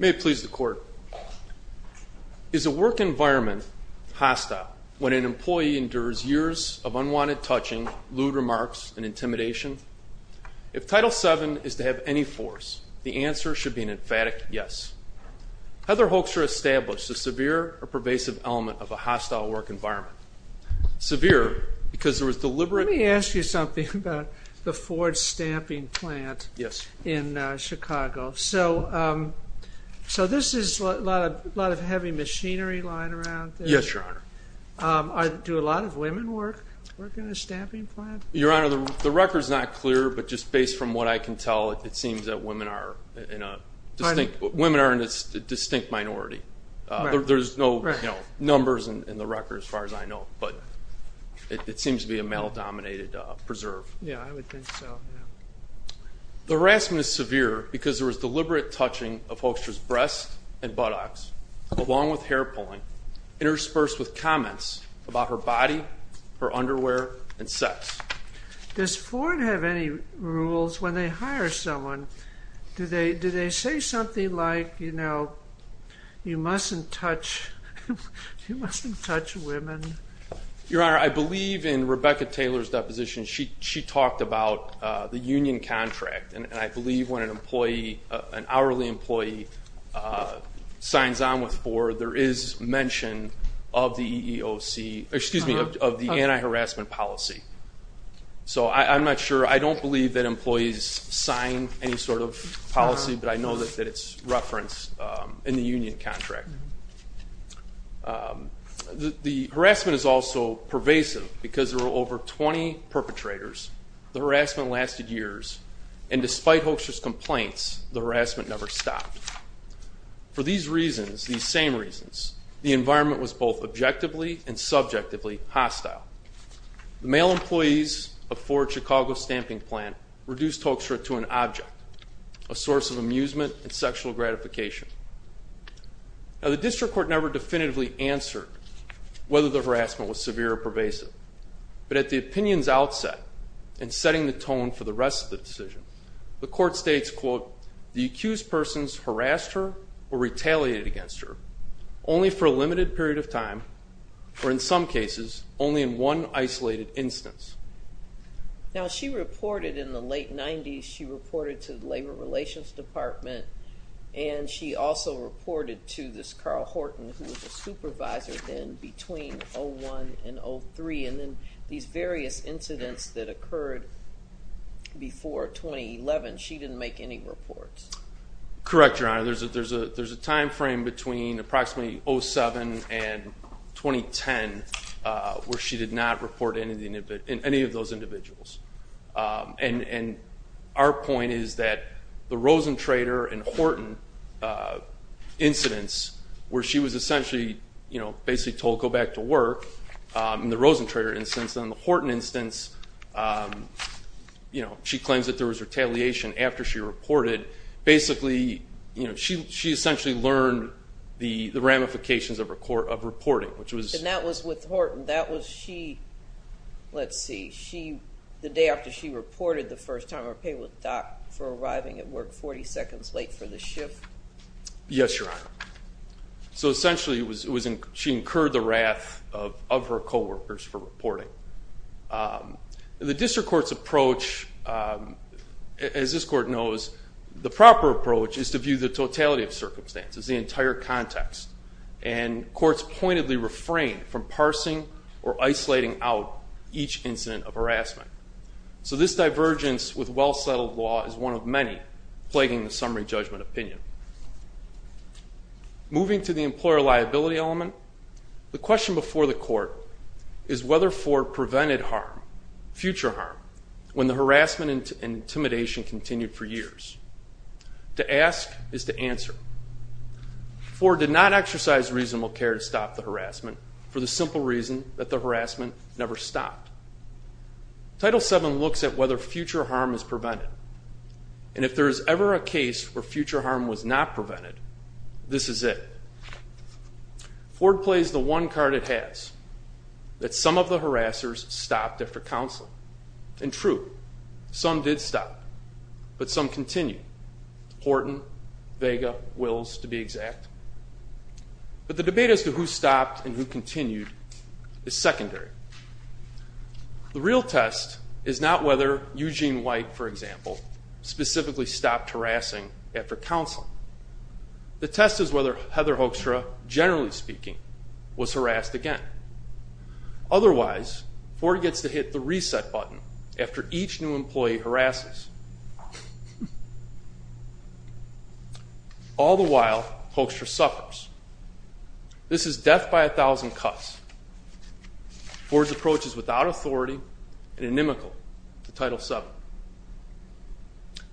May it please the court. Is a work environment hostile when an employee endures years of unwanted touching, lewd remarks, and intimidation? If Title VII is to have any force, the answer should be an emphatic yes. Heather Hoekstra established the severe or pervasive element of a hostile work environment. Severe because there was deliberate- Let me ask you something about the Ford stamping plant in Chicago. So this is a lot of heavy machinery lying around? Yes, your honor. Do a lot of women work in a stamping plant? Your honor, the record's not clear, but just based from what I can tell, it seems that women are in a distinct minority. There's no numbers in the record as far as I know, but it seems to be a male-dominated preserve. Yeah, I would think so. The harassment is severe because there was deliberate touching of Hoekstra's breasts and buttocks, along with hair pulling, interspersed with comments about her body, her underwear, and sex. Does Ford have any rules when they hire someone? Do they say something like, you know, you mustn't touch women? Your honor, I believe in Rebecca Taylor's deposition, she talked about the union contract, and I believe when an hourly employee signs on with Ford, there is mention of the anti-harassment policy. So I'm not sure, I don't believe that employees sign any sort of policy, but I know that it's referenced in the union contract. The harassment is also pervasive because there were over 20 perpetrators, the harassment lasted years, and despite Hoekstra's complaints, the harassment never stopped. For these reasons, these same reasons, the environment was both objectively and subjectively hostile. The male employees of Ford Chicago Stamping Plant reduced Hoekstra to an object, a source of amusement and sexual gratification. Now the district court never definitively answered whether the harassment was severe or pervasive, but at the opinion's outset, in setting the tone for the rest of the decision, the court states, quote, the accused persons harassed her or retaliated against her, only for a limited period of time, or in some cases, only in one isolated instance. Now she reported in the late 90s, she reported to the Labor Relations Department, and she also reported to this Carl Horton, who was a supervisor then between 01 and 03, and then these various incidents that occurred before 2011, she didn't make any reports. Correct, Your Honor, there's a time frame between approximately 07 and 2010, where she did not report any of those individuals. And our point is that the Rosentrader and Horton incidents where she was essentially basically told, go back to work, in the Rosentrader instance, and the Horton instance, you know, she claims that there was retaliation after she reported, basically, you know, she essentially learned the ramifications of reporting, which was- And that was with Horton, that was she, let's see, the day after she reported the first time, or paid with a dock for arriving at work 40 seconds late for the shift? Yes, Your Honor. So essentially, she incurred the wrath of her co-workers for reporting. The district court's approach, as this court knows, the proper approach is to view the totality of circumstances, the entire context, and courts pointedly refrain from parsing or isolating out each incident of harassment. So this divergence with well-settled law is one of many plaguing the summary judgment opinion. Moving to the employer liability element, the question before the court is whether Ford prevented harm, future harm, when the harassment and intimidation continued for years. To ask is to answer. Ford did not exercise reasonable care to stop the harassment for the simple reason that the harassment never stopped. Title VII looks at whether future harm is prevented, and if there is ever a case where future harm was not prevented, this is it. Ford plays the one card it has, that some of the harassers stopped after counseling. And true, some did stop, but some continued. Horton, Vega, Wills, to be exact. But the debate as to who stopped and who continued is secondary. The real test is not whether Eugene White, for example, specifically stopped harassing after counseling. The test is whether Heather Hoekstra, generally speaking, was harassed again. Otherwise, Ford gets to hit the reset button after each new employee harasses. All the while, Hoekstra suffers. This is death by a thousand cuts. Ford's approach is without authority and inimical to Title VII.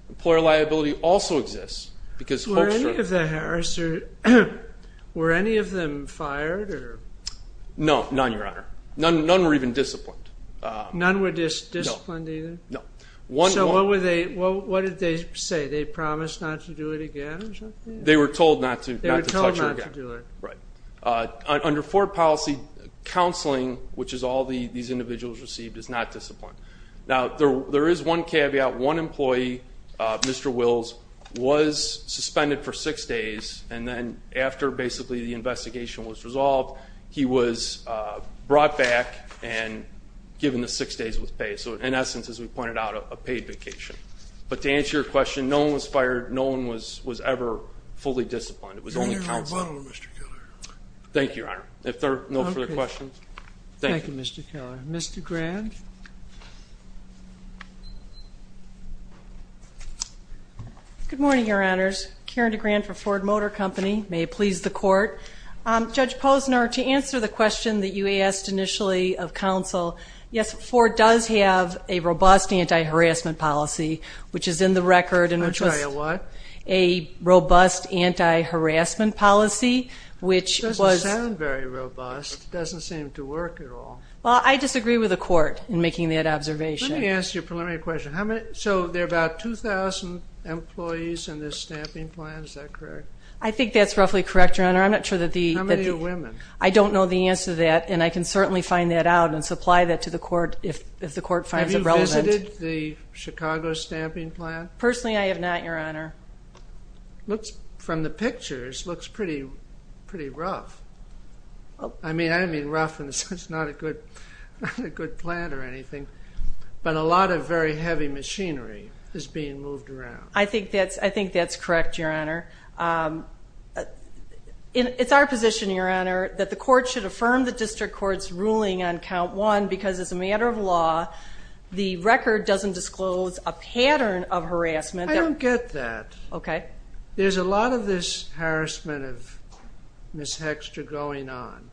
Employer liability also exists because Hoekstra- Were any of the harassers, were any of them fired or- No, none, your honor. None were even disciplined. None were disciplined either? No. So what did they say? They promised not to do it again or something? They were told not to touch her again. They were told not to do it. Under Ford policy, counseling, which is all these individuals received, is not disciplined. Now there is one caveat. One employee, Mr. Wills, was suspended for six days, and then after basically the investigation was resolved, he was brought back and given the six days with pay. So in essence, as we pointed out, a paid vacation. But to answer your question, no one was fired. No one was ever fully disciplined. It was only counseling. Your Honor, I'll follow Mr. Keller. Thank you, your honor. If there are no further questions, thank you. Thank you, Mr. Keller. Mr. Grant? Good morning, your honors. Karen DeGrand for Ford Motor Company. May it please the court. Judge Posner, to answer the question that you asked initially of counsel, yes, Ford does have a robust anti-harassment policy, which is in the record- I'll tell you what. A robust anti-harassment policy, which- It doesn't sound very robust. It doesn't seem to work at all. Well, I disagree with the court in making that observation. Let me ask you a preliminary question. So there are about 2,000 employees in this stamping plan, is that correct? I think that's roughly correct, your honor. I'm not sure that the- How many are women? I don't know the answer to that, and I can certainly find that out and supply that to the court if the court finds it relevant. Have you visited the Chicago stamping plan? Personally, I have not, your honor. From the pictures, it looks pretty rough. I mean, rough in the sense it's not a good plan or anything, but a lot of very heavy machinery is being moved around. I think that's correct, your honor. It's our position, your honor, that the court should affirm the district court's ruling on count one because as a matter of law, the record doesn't disclose a pattern of harassment. I don't get that. Okay. There's a lot of this harassment of Ms. Hexter going on,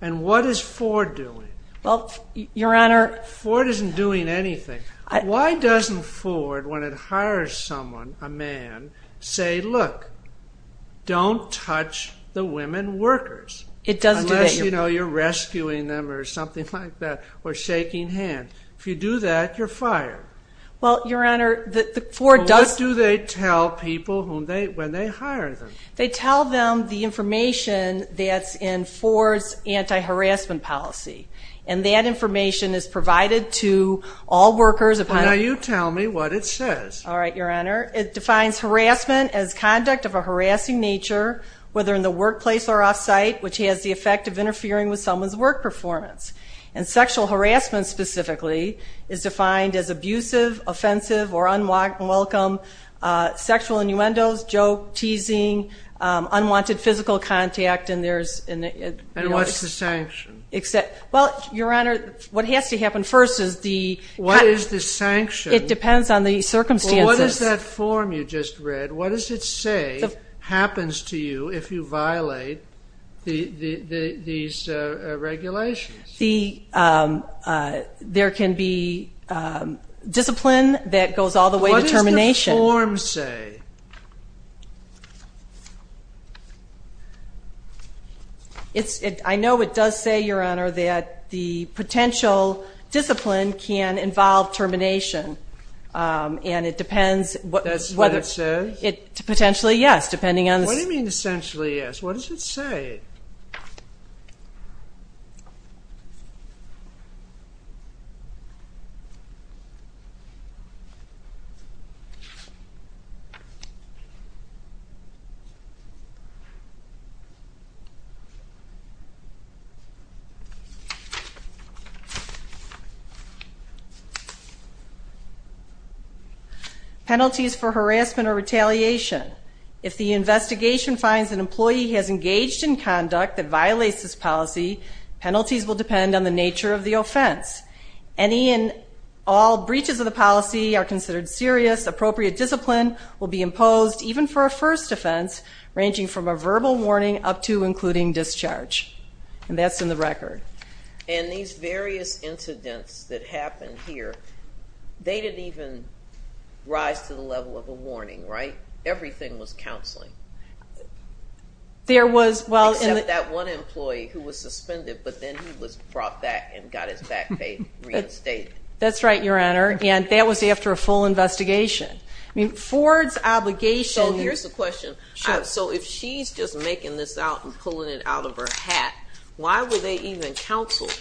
and what is Ford doing? Well, your honor- Ford isn't doing anything. Why doesn't Ford, when it hires someone, a man, say, look, don't touch the women workers? It doesn't do that, your- Unless, you know, you're rescuing them or something like that, or shaking hands. If you do that, you're fired. Well, your honor, Ford does- What do they tell people when they hire them? They tell them the information that's in Ford's anti-harassment policy, and that information is provided to all workers upon- Now you tell me what it says. All right, your honor. It defines harassment as conduct of a harassing nature, whether in the workplace or off-site, which has the effect of interfering with someone's work performance. And sexual harassment specifically is defined as abusive, offensive, or unwelcome sexual innuendos, joke, teasing, unwanted physical contact, and there's- And what's the sanction? Well, your honor, what has to happen first is the- What is the sanction? It depends on the circumstances. What is that form you just read? What does it say happens to you if you violate these regulations? There can be discipline that goes all the way to termination. What does the form say? I know it does say, your honor, that the potential discipline can involve termination, and it depends- That's what it says? Potentially, yes, depending on- What do you mean, essentially, yes? What does it say? Penalties for harassment or retaliation. If the investigation finds an employee has engaged in conduct that violates this policy, penalties will depend on the nature of the offense. Any and all breaches of the policy are considered serious. Appropriate discipline will be imposed, even for a first offense, ranging from a verbal warning up to including discharge. And that's in the record. And these various incidents that happened here, they didn't even rise to the level of a warning, right? Everything was counseling. There was, well- Except that one employee who was suspended, but then he was brought back and got his back pay reinstated. That's right, your honor, and that was after a full investigation. I mean, Ford's obligation- So here's the question. So if she's just making this out and pulling it out of her hat, why were they even counseled?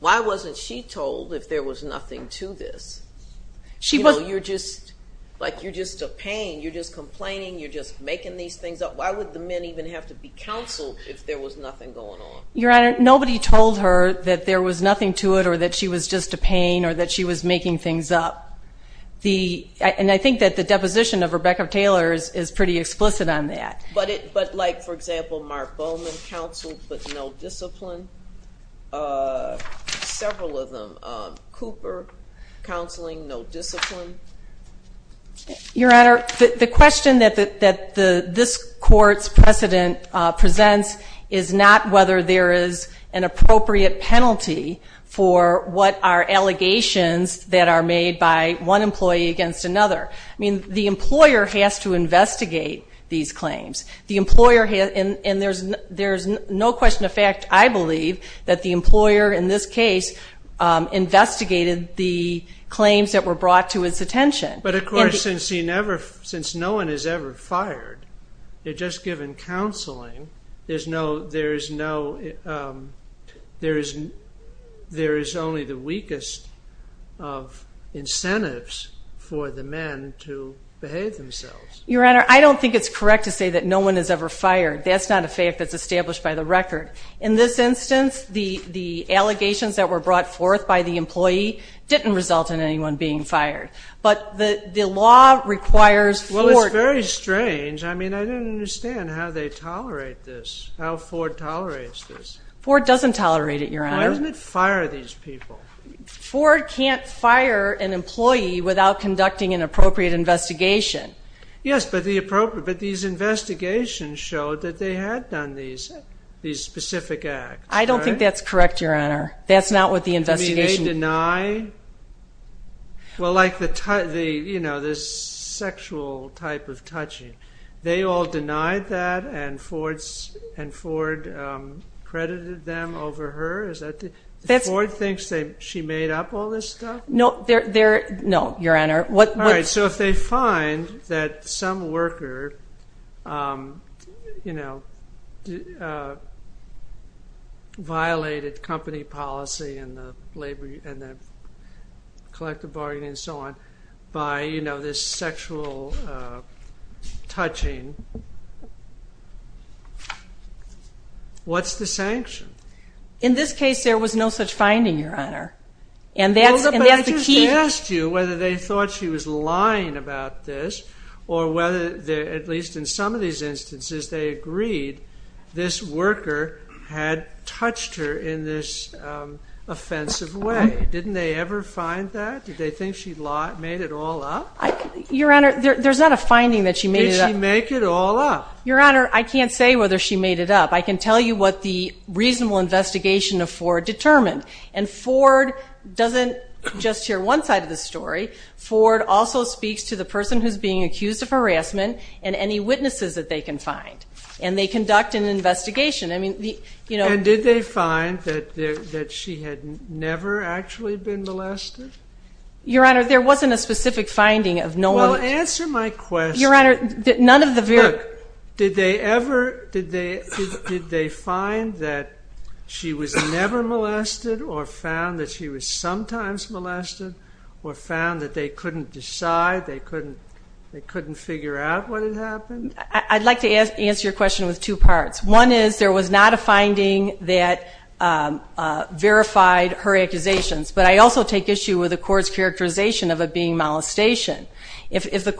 Why wasn't she told if there was nothing to this? She was- You're just a pain. You're just complaining. You're just making these things up. Why would the men even have to be counseled if there was nothing going on? Your honor, nobody told her that there was nothing to it or that she was just a pain or that she was making things up. And I think that the deposition of Rebecca Taylor is pretty explicit on that. But like, for example, Mark Bowman counseled, but no discipline. Several of them. Cooper counseling, no discipline. Your honor, the question that this court's precedent presents is not whether there is an appropriate penalty for what are allegations that are made by one employee against another. I mean, the employer has to investigate these claims. The employer has- and there's no question of fact, I believe, that the employer in this case investigated the claims that were brought to his attention. But of course, since he never- since no one has ever fired, they're just given counseling. There's no- there is no- there is- there is only the weakest of incentives for the men to behave themselves. Your honor, I don't think it's correct to say that no one has ever fired. That's not a fact that's established by the record. In this instance, the allegations that were brought forth by the employee didn't result in anyone being fired. But the law requires- Well, it's very strange. I mean, I don't understand how they tolerate this. How Ford tolerates this. Ford doesn't tolerate it, your honor. Why doesn't it fire these people? Ford can't fire an employee without conducting an appropriate investigation. Yes, but the appropriate- but these investigations showed that they had done these specific acts. I don't think that's correct, your honor. That's not what the investigation- I mean, they deny- well, like the, you know, this sexual type of touching. They all denied that, and Ford credited them over her? Is that- Ford thinks that she made up all this stuff? No, they're- no, your honor. All right, so if they find that some worker, you know, violated company policy and the labor- and the collective bargaining and so on by, you know, this sexual touching, what's the sanction? In this case, there was no such finding, your honor. And that's the key- whether they thought she was lying about this, or whether, at least in some of these instances, they agreed this worker had touched her in this offensive way. Didn't they ever find that? Did they think she made it all up? Your honor, there's not a finding that she made it up. Did she make it all up? Your honor, I can't say whether she made it up. I can tell you what the reasonable investigation of Ford determined. And Ford doesn't just share one side of the story. Ford also speaks to the person who's being accused of harassment and any witnesses that they can find. And they conduct an investigation. I mean, you know- And did they find that she had never actually been molested? Your honor, there wasn't a specific finding of no one- Well, answer my question. Your honor, none of the very- Did they ever- Did they find that she was never molested, or found that she was sometimes molested, or found that they couldn't decide, they couldn't figure out what had happened? I'd like to answer your question with two parts. One is, there was not a finding that verified her accusations. But I also take issue with the court's characterization of it being molestation. If the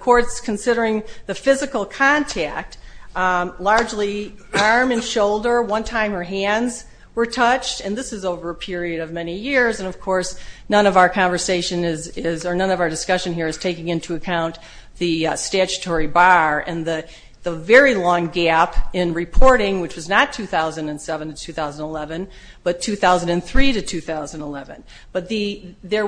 court's considering the physical contact, largely arm and shoulder, one time her hands were touched, and this is over a period of many years, and of course, none of our conversation is, or none of our discussion here is taking into account the statutory bar and the very long gap in reporting, which was not 2007 to 2011, but 2003 to 2011. But there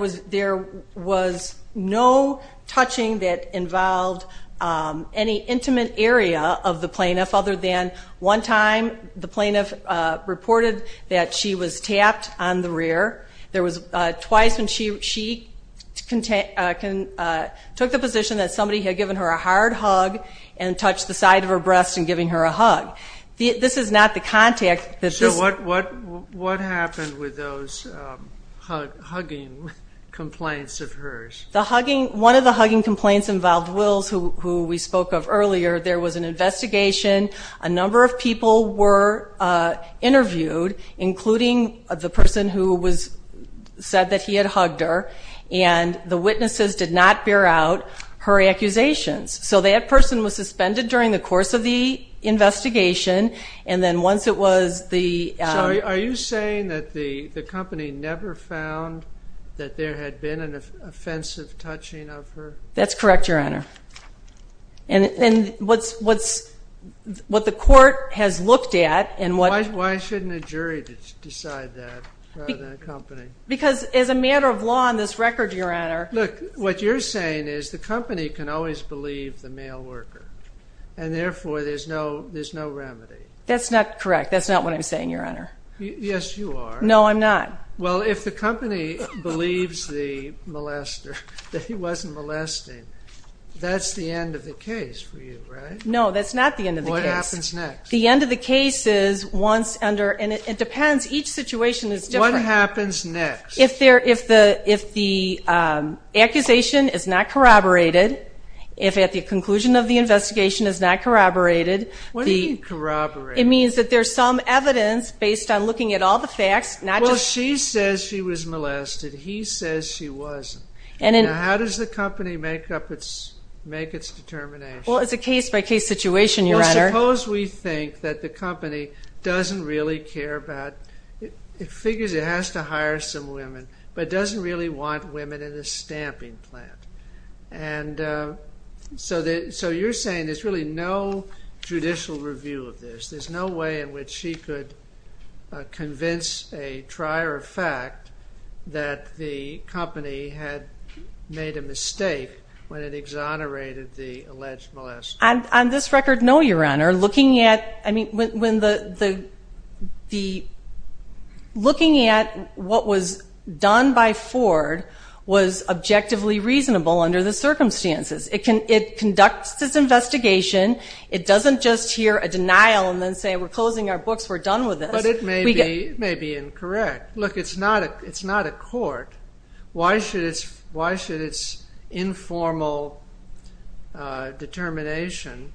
was no touching that involved any intimate area of the plaintiff other than one time the plaintiff reported that she was tapped on the rear. There was twice when she took the position that somebody had given her a hard hug and touched the side of her breast and giving her a hug. This is not the contact that this- What happened with those hugging complaints of hers? One of the hugging complaints involved Wills, who we spoke of earlier. There was an investigation. A number of people were interviewed, including the person who said that he had hugged her, and the witnesses did not bear out her accusations. So that person was suspended during the course of the investigation, and then once it was the- So are you saying that the company never found that there had been an offensive touching of her? That's correct, Your Honor. And what the court has looked at and what- Why shouldn't a jury decide that rather than a company? Because as a matter of law in this record, Your Honor- Look, what you're saying is the company can always believe the male worker, and therefore there's no remedy. That's not correct. That's not what I'm saying, Your Honor. Yes, you are. No, I'm not. Well, if the company believes the molester, that he wasn't molesting, that's the end of the case for you, right? No, that's not the end of the case. What happens next? The end of the case is once under- And it depends. Each situation is different. What happens next? If the accusation is not corroborated, if at the conclusion of the investigation is not corroborated- What do you mean corroborated? It means that there's some evidence based on looking at all the facts, not just- Well, she says she was molested. He says she wasn't. And how does the company make up its- make its determination? Well, it's a case-by-case situation, Your Honor. Well, suppose we think that the company doesn't really care about- figures it has to hire some women, but doesn't really want women in the stamping plant. And so you're saying there's really no judicial review of this. There's no way in which she could convince a trier of fact that the company had made a mistake when it exonerated the alleged molester. On this record, no, Your Honor. I mean, looking at what was done by Ford was objectively reasonable under the circumstances. It conducts its investigation. It doesn't just hear a denial and then say, we're closing our books. We're done with this. But it may be incorrect. Look, it's not a court. Why should its- why should its informal determination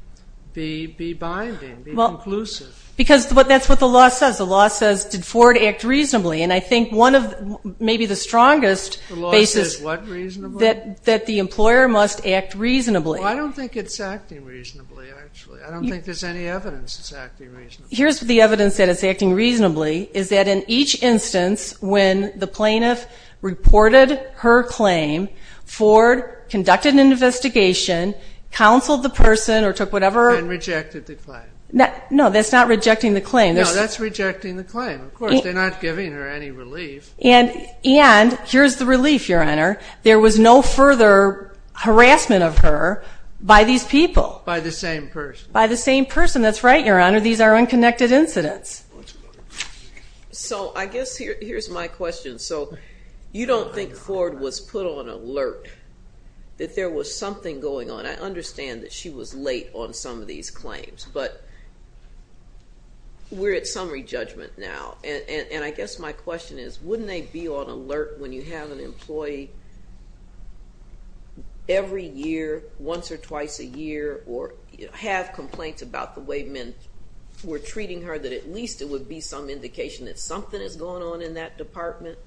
be- be binding, be conclusive? Because that's what the law says. The law says, did Ford act reasonably? And I think one of- maybe the strongest basis- The law says what reasonably? That the employer must act reasonably. Well, I don't think it's acting reasonably, actually. I don't think there's any evidence it's acting reasonably. Here's the evidence that it's acting reasonably is that in each instance when the plaintiff reported her claim, Ford conducted an investigation, counseled the person, or took whatever- And rejected the claim. No, that's not rejecting the claim. No, that's rejecting the claim. Of course, they're not giving her any relief. And- and here's the relief, Your Honor. There was no further harassment of her by these people. By the same person. By the same person. That's right, Your Honor. These are unconnected incidents. So I guess here- here's my question. So you don't think Ford was put on alert that there was something going on? I understand that she was late on some of these claims, but we're at summary judgment now. And- and I guess my question is, wouldn't they be on alert when you have an employee every year, once or twice a year, or have complaints about the way men were treating her that at least it would be some indication that something is going on in that department?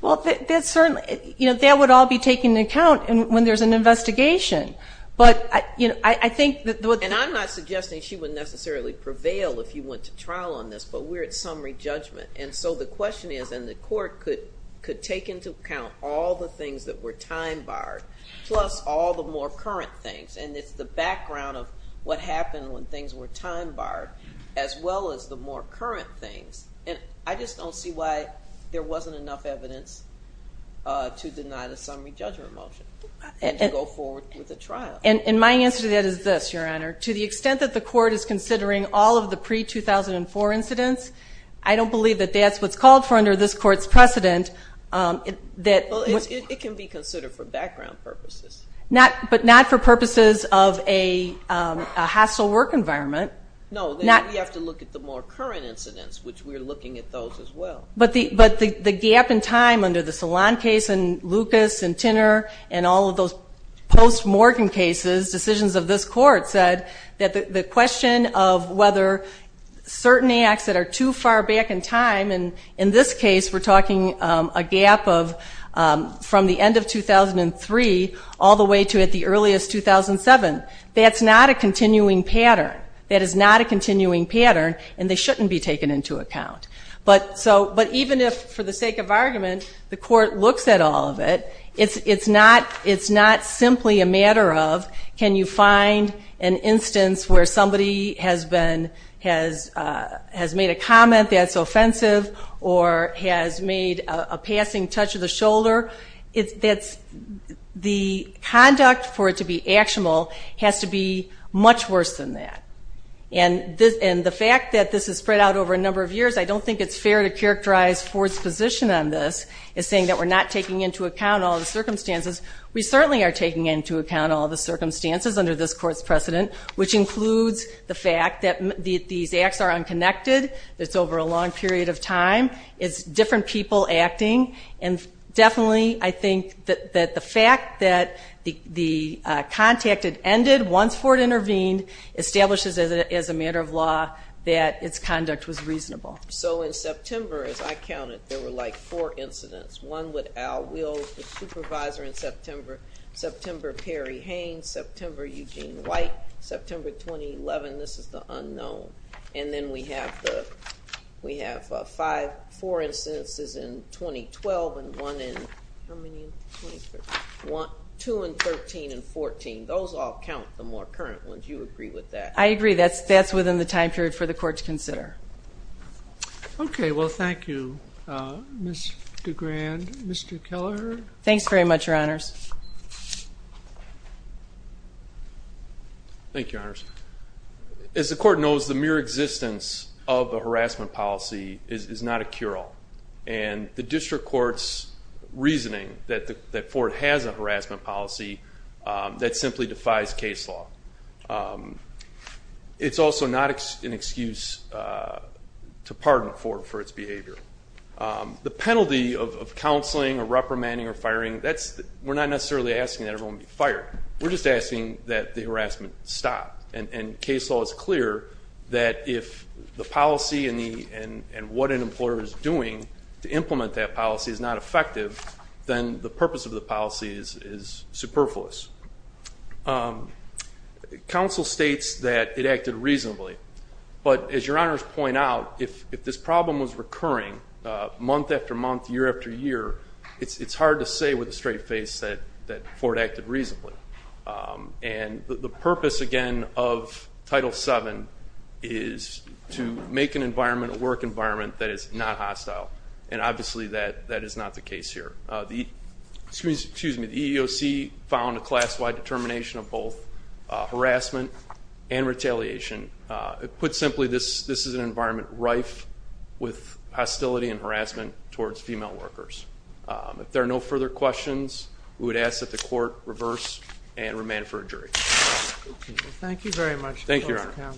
Well, that's certainly- you know, that would all be taken into account when there's an investigation. But, you know, I think that- And I'm not suggesting she would necessarily prevail if you went to trial on this, but we're at summary judgment. And so the question is, and the court could- could take into account all the things that were time-barred, plus all the more current things. And it's the background of what happened when things were time-barred, as well as the more current things. And I just don't see why there wasn't enough evidence to deny the summary judgment motion and to go forward with the trial. And my answer to that is this, Your Honor. To the extent that the court is considering all of the pre-2004 incidents, I don't believe that that's what's called for under this court's precedent that- Well, it can be considered for background purposes. Not- but not for purposes of a hostile work environment. No, we have to look at the more current incidents, which we're looking at those as well. But the gap in time under the Salon case, and Lucas, and Tinner, and all of those post-Morgan cases, decisions of this court said that the question of whether certain acts that are too far back in time, and in this case, we're talking a gap of from the end of 2003 all the way to at the earliest 2007. That's not a continuing pattern. That is not a continuing pattern, and they shouldn't be taken into account. But even if, for the sake of argument, the court looks at all of it, it's not simply a matter of can you find an instance where somebody has made a comment that's offensive or has made a passing touch of the shoulder. The conduct for it to be actionable has to be much worse than that. And the fact that this is spread out over a number of years, I don't think it's fair to characterize Ford's position on this as saying that we're not taking into account all the circumstances. We certainly are taking into account all the circumstances under this court's precedent, which includes the fact that these acts are unconnected. It's over a long period of time. It's different people acting. And definitely, I think that the fact that the contact had ended once Ford intervened establishes as a matter of law that its conduct was reasonable. So in September, as I counted, there were like four incidents. One with Al Wills, the supervisor, in September. September, Perry Haynes. September, Eugene White. September, 2011. This is the unknown. And then we have four instances in 2012 and one in, how many? Two in 13 and 14. Those all count, the more current ones. Do you agree with that? I agree. That's within the time period for the court to consider. Okay. Well, thank you, Ms. DeGrand. Mr. Kelleher? Thanks very much, Your Honors. Thank you, Your Honors. As the court knows, the mere existence of a harassment policy is not a cure-all. And the district court's reasoning that Ford has a harassment policy that simply defies case law. It's also not an excuse to pardon Ford for its behavior. The penalty of counseling or reprimanding or firing, we're not necessarily asking that everyone be fired. We're just asking that the harassment stop. And case law is clear that if the policy and what an employer is doing to implement that policy is not effective, then the purpose of the policy is superfluous. Counsel states that it acted reasonably. But as Your Honors point out, if this problem was recurring month after month, year after year, it's hard to say with a straight face that Ford acted reasonably. And the purpose, again, of Title VII is to make an environment, a work environment that is not hostile. And obviously, that is not the case here. Excuse me. The EEOC found a class-wide determination of both harassment and retaliation. Put simply, this is an environment rife with hostility and harassment towards female workers. If there are no further questions, we would ask that the court reverse and remand for a jury. Thank you very much. Thank you, Your Honor.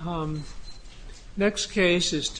So next case is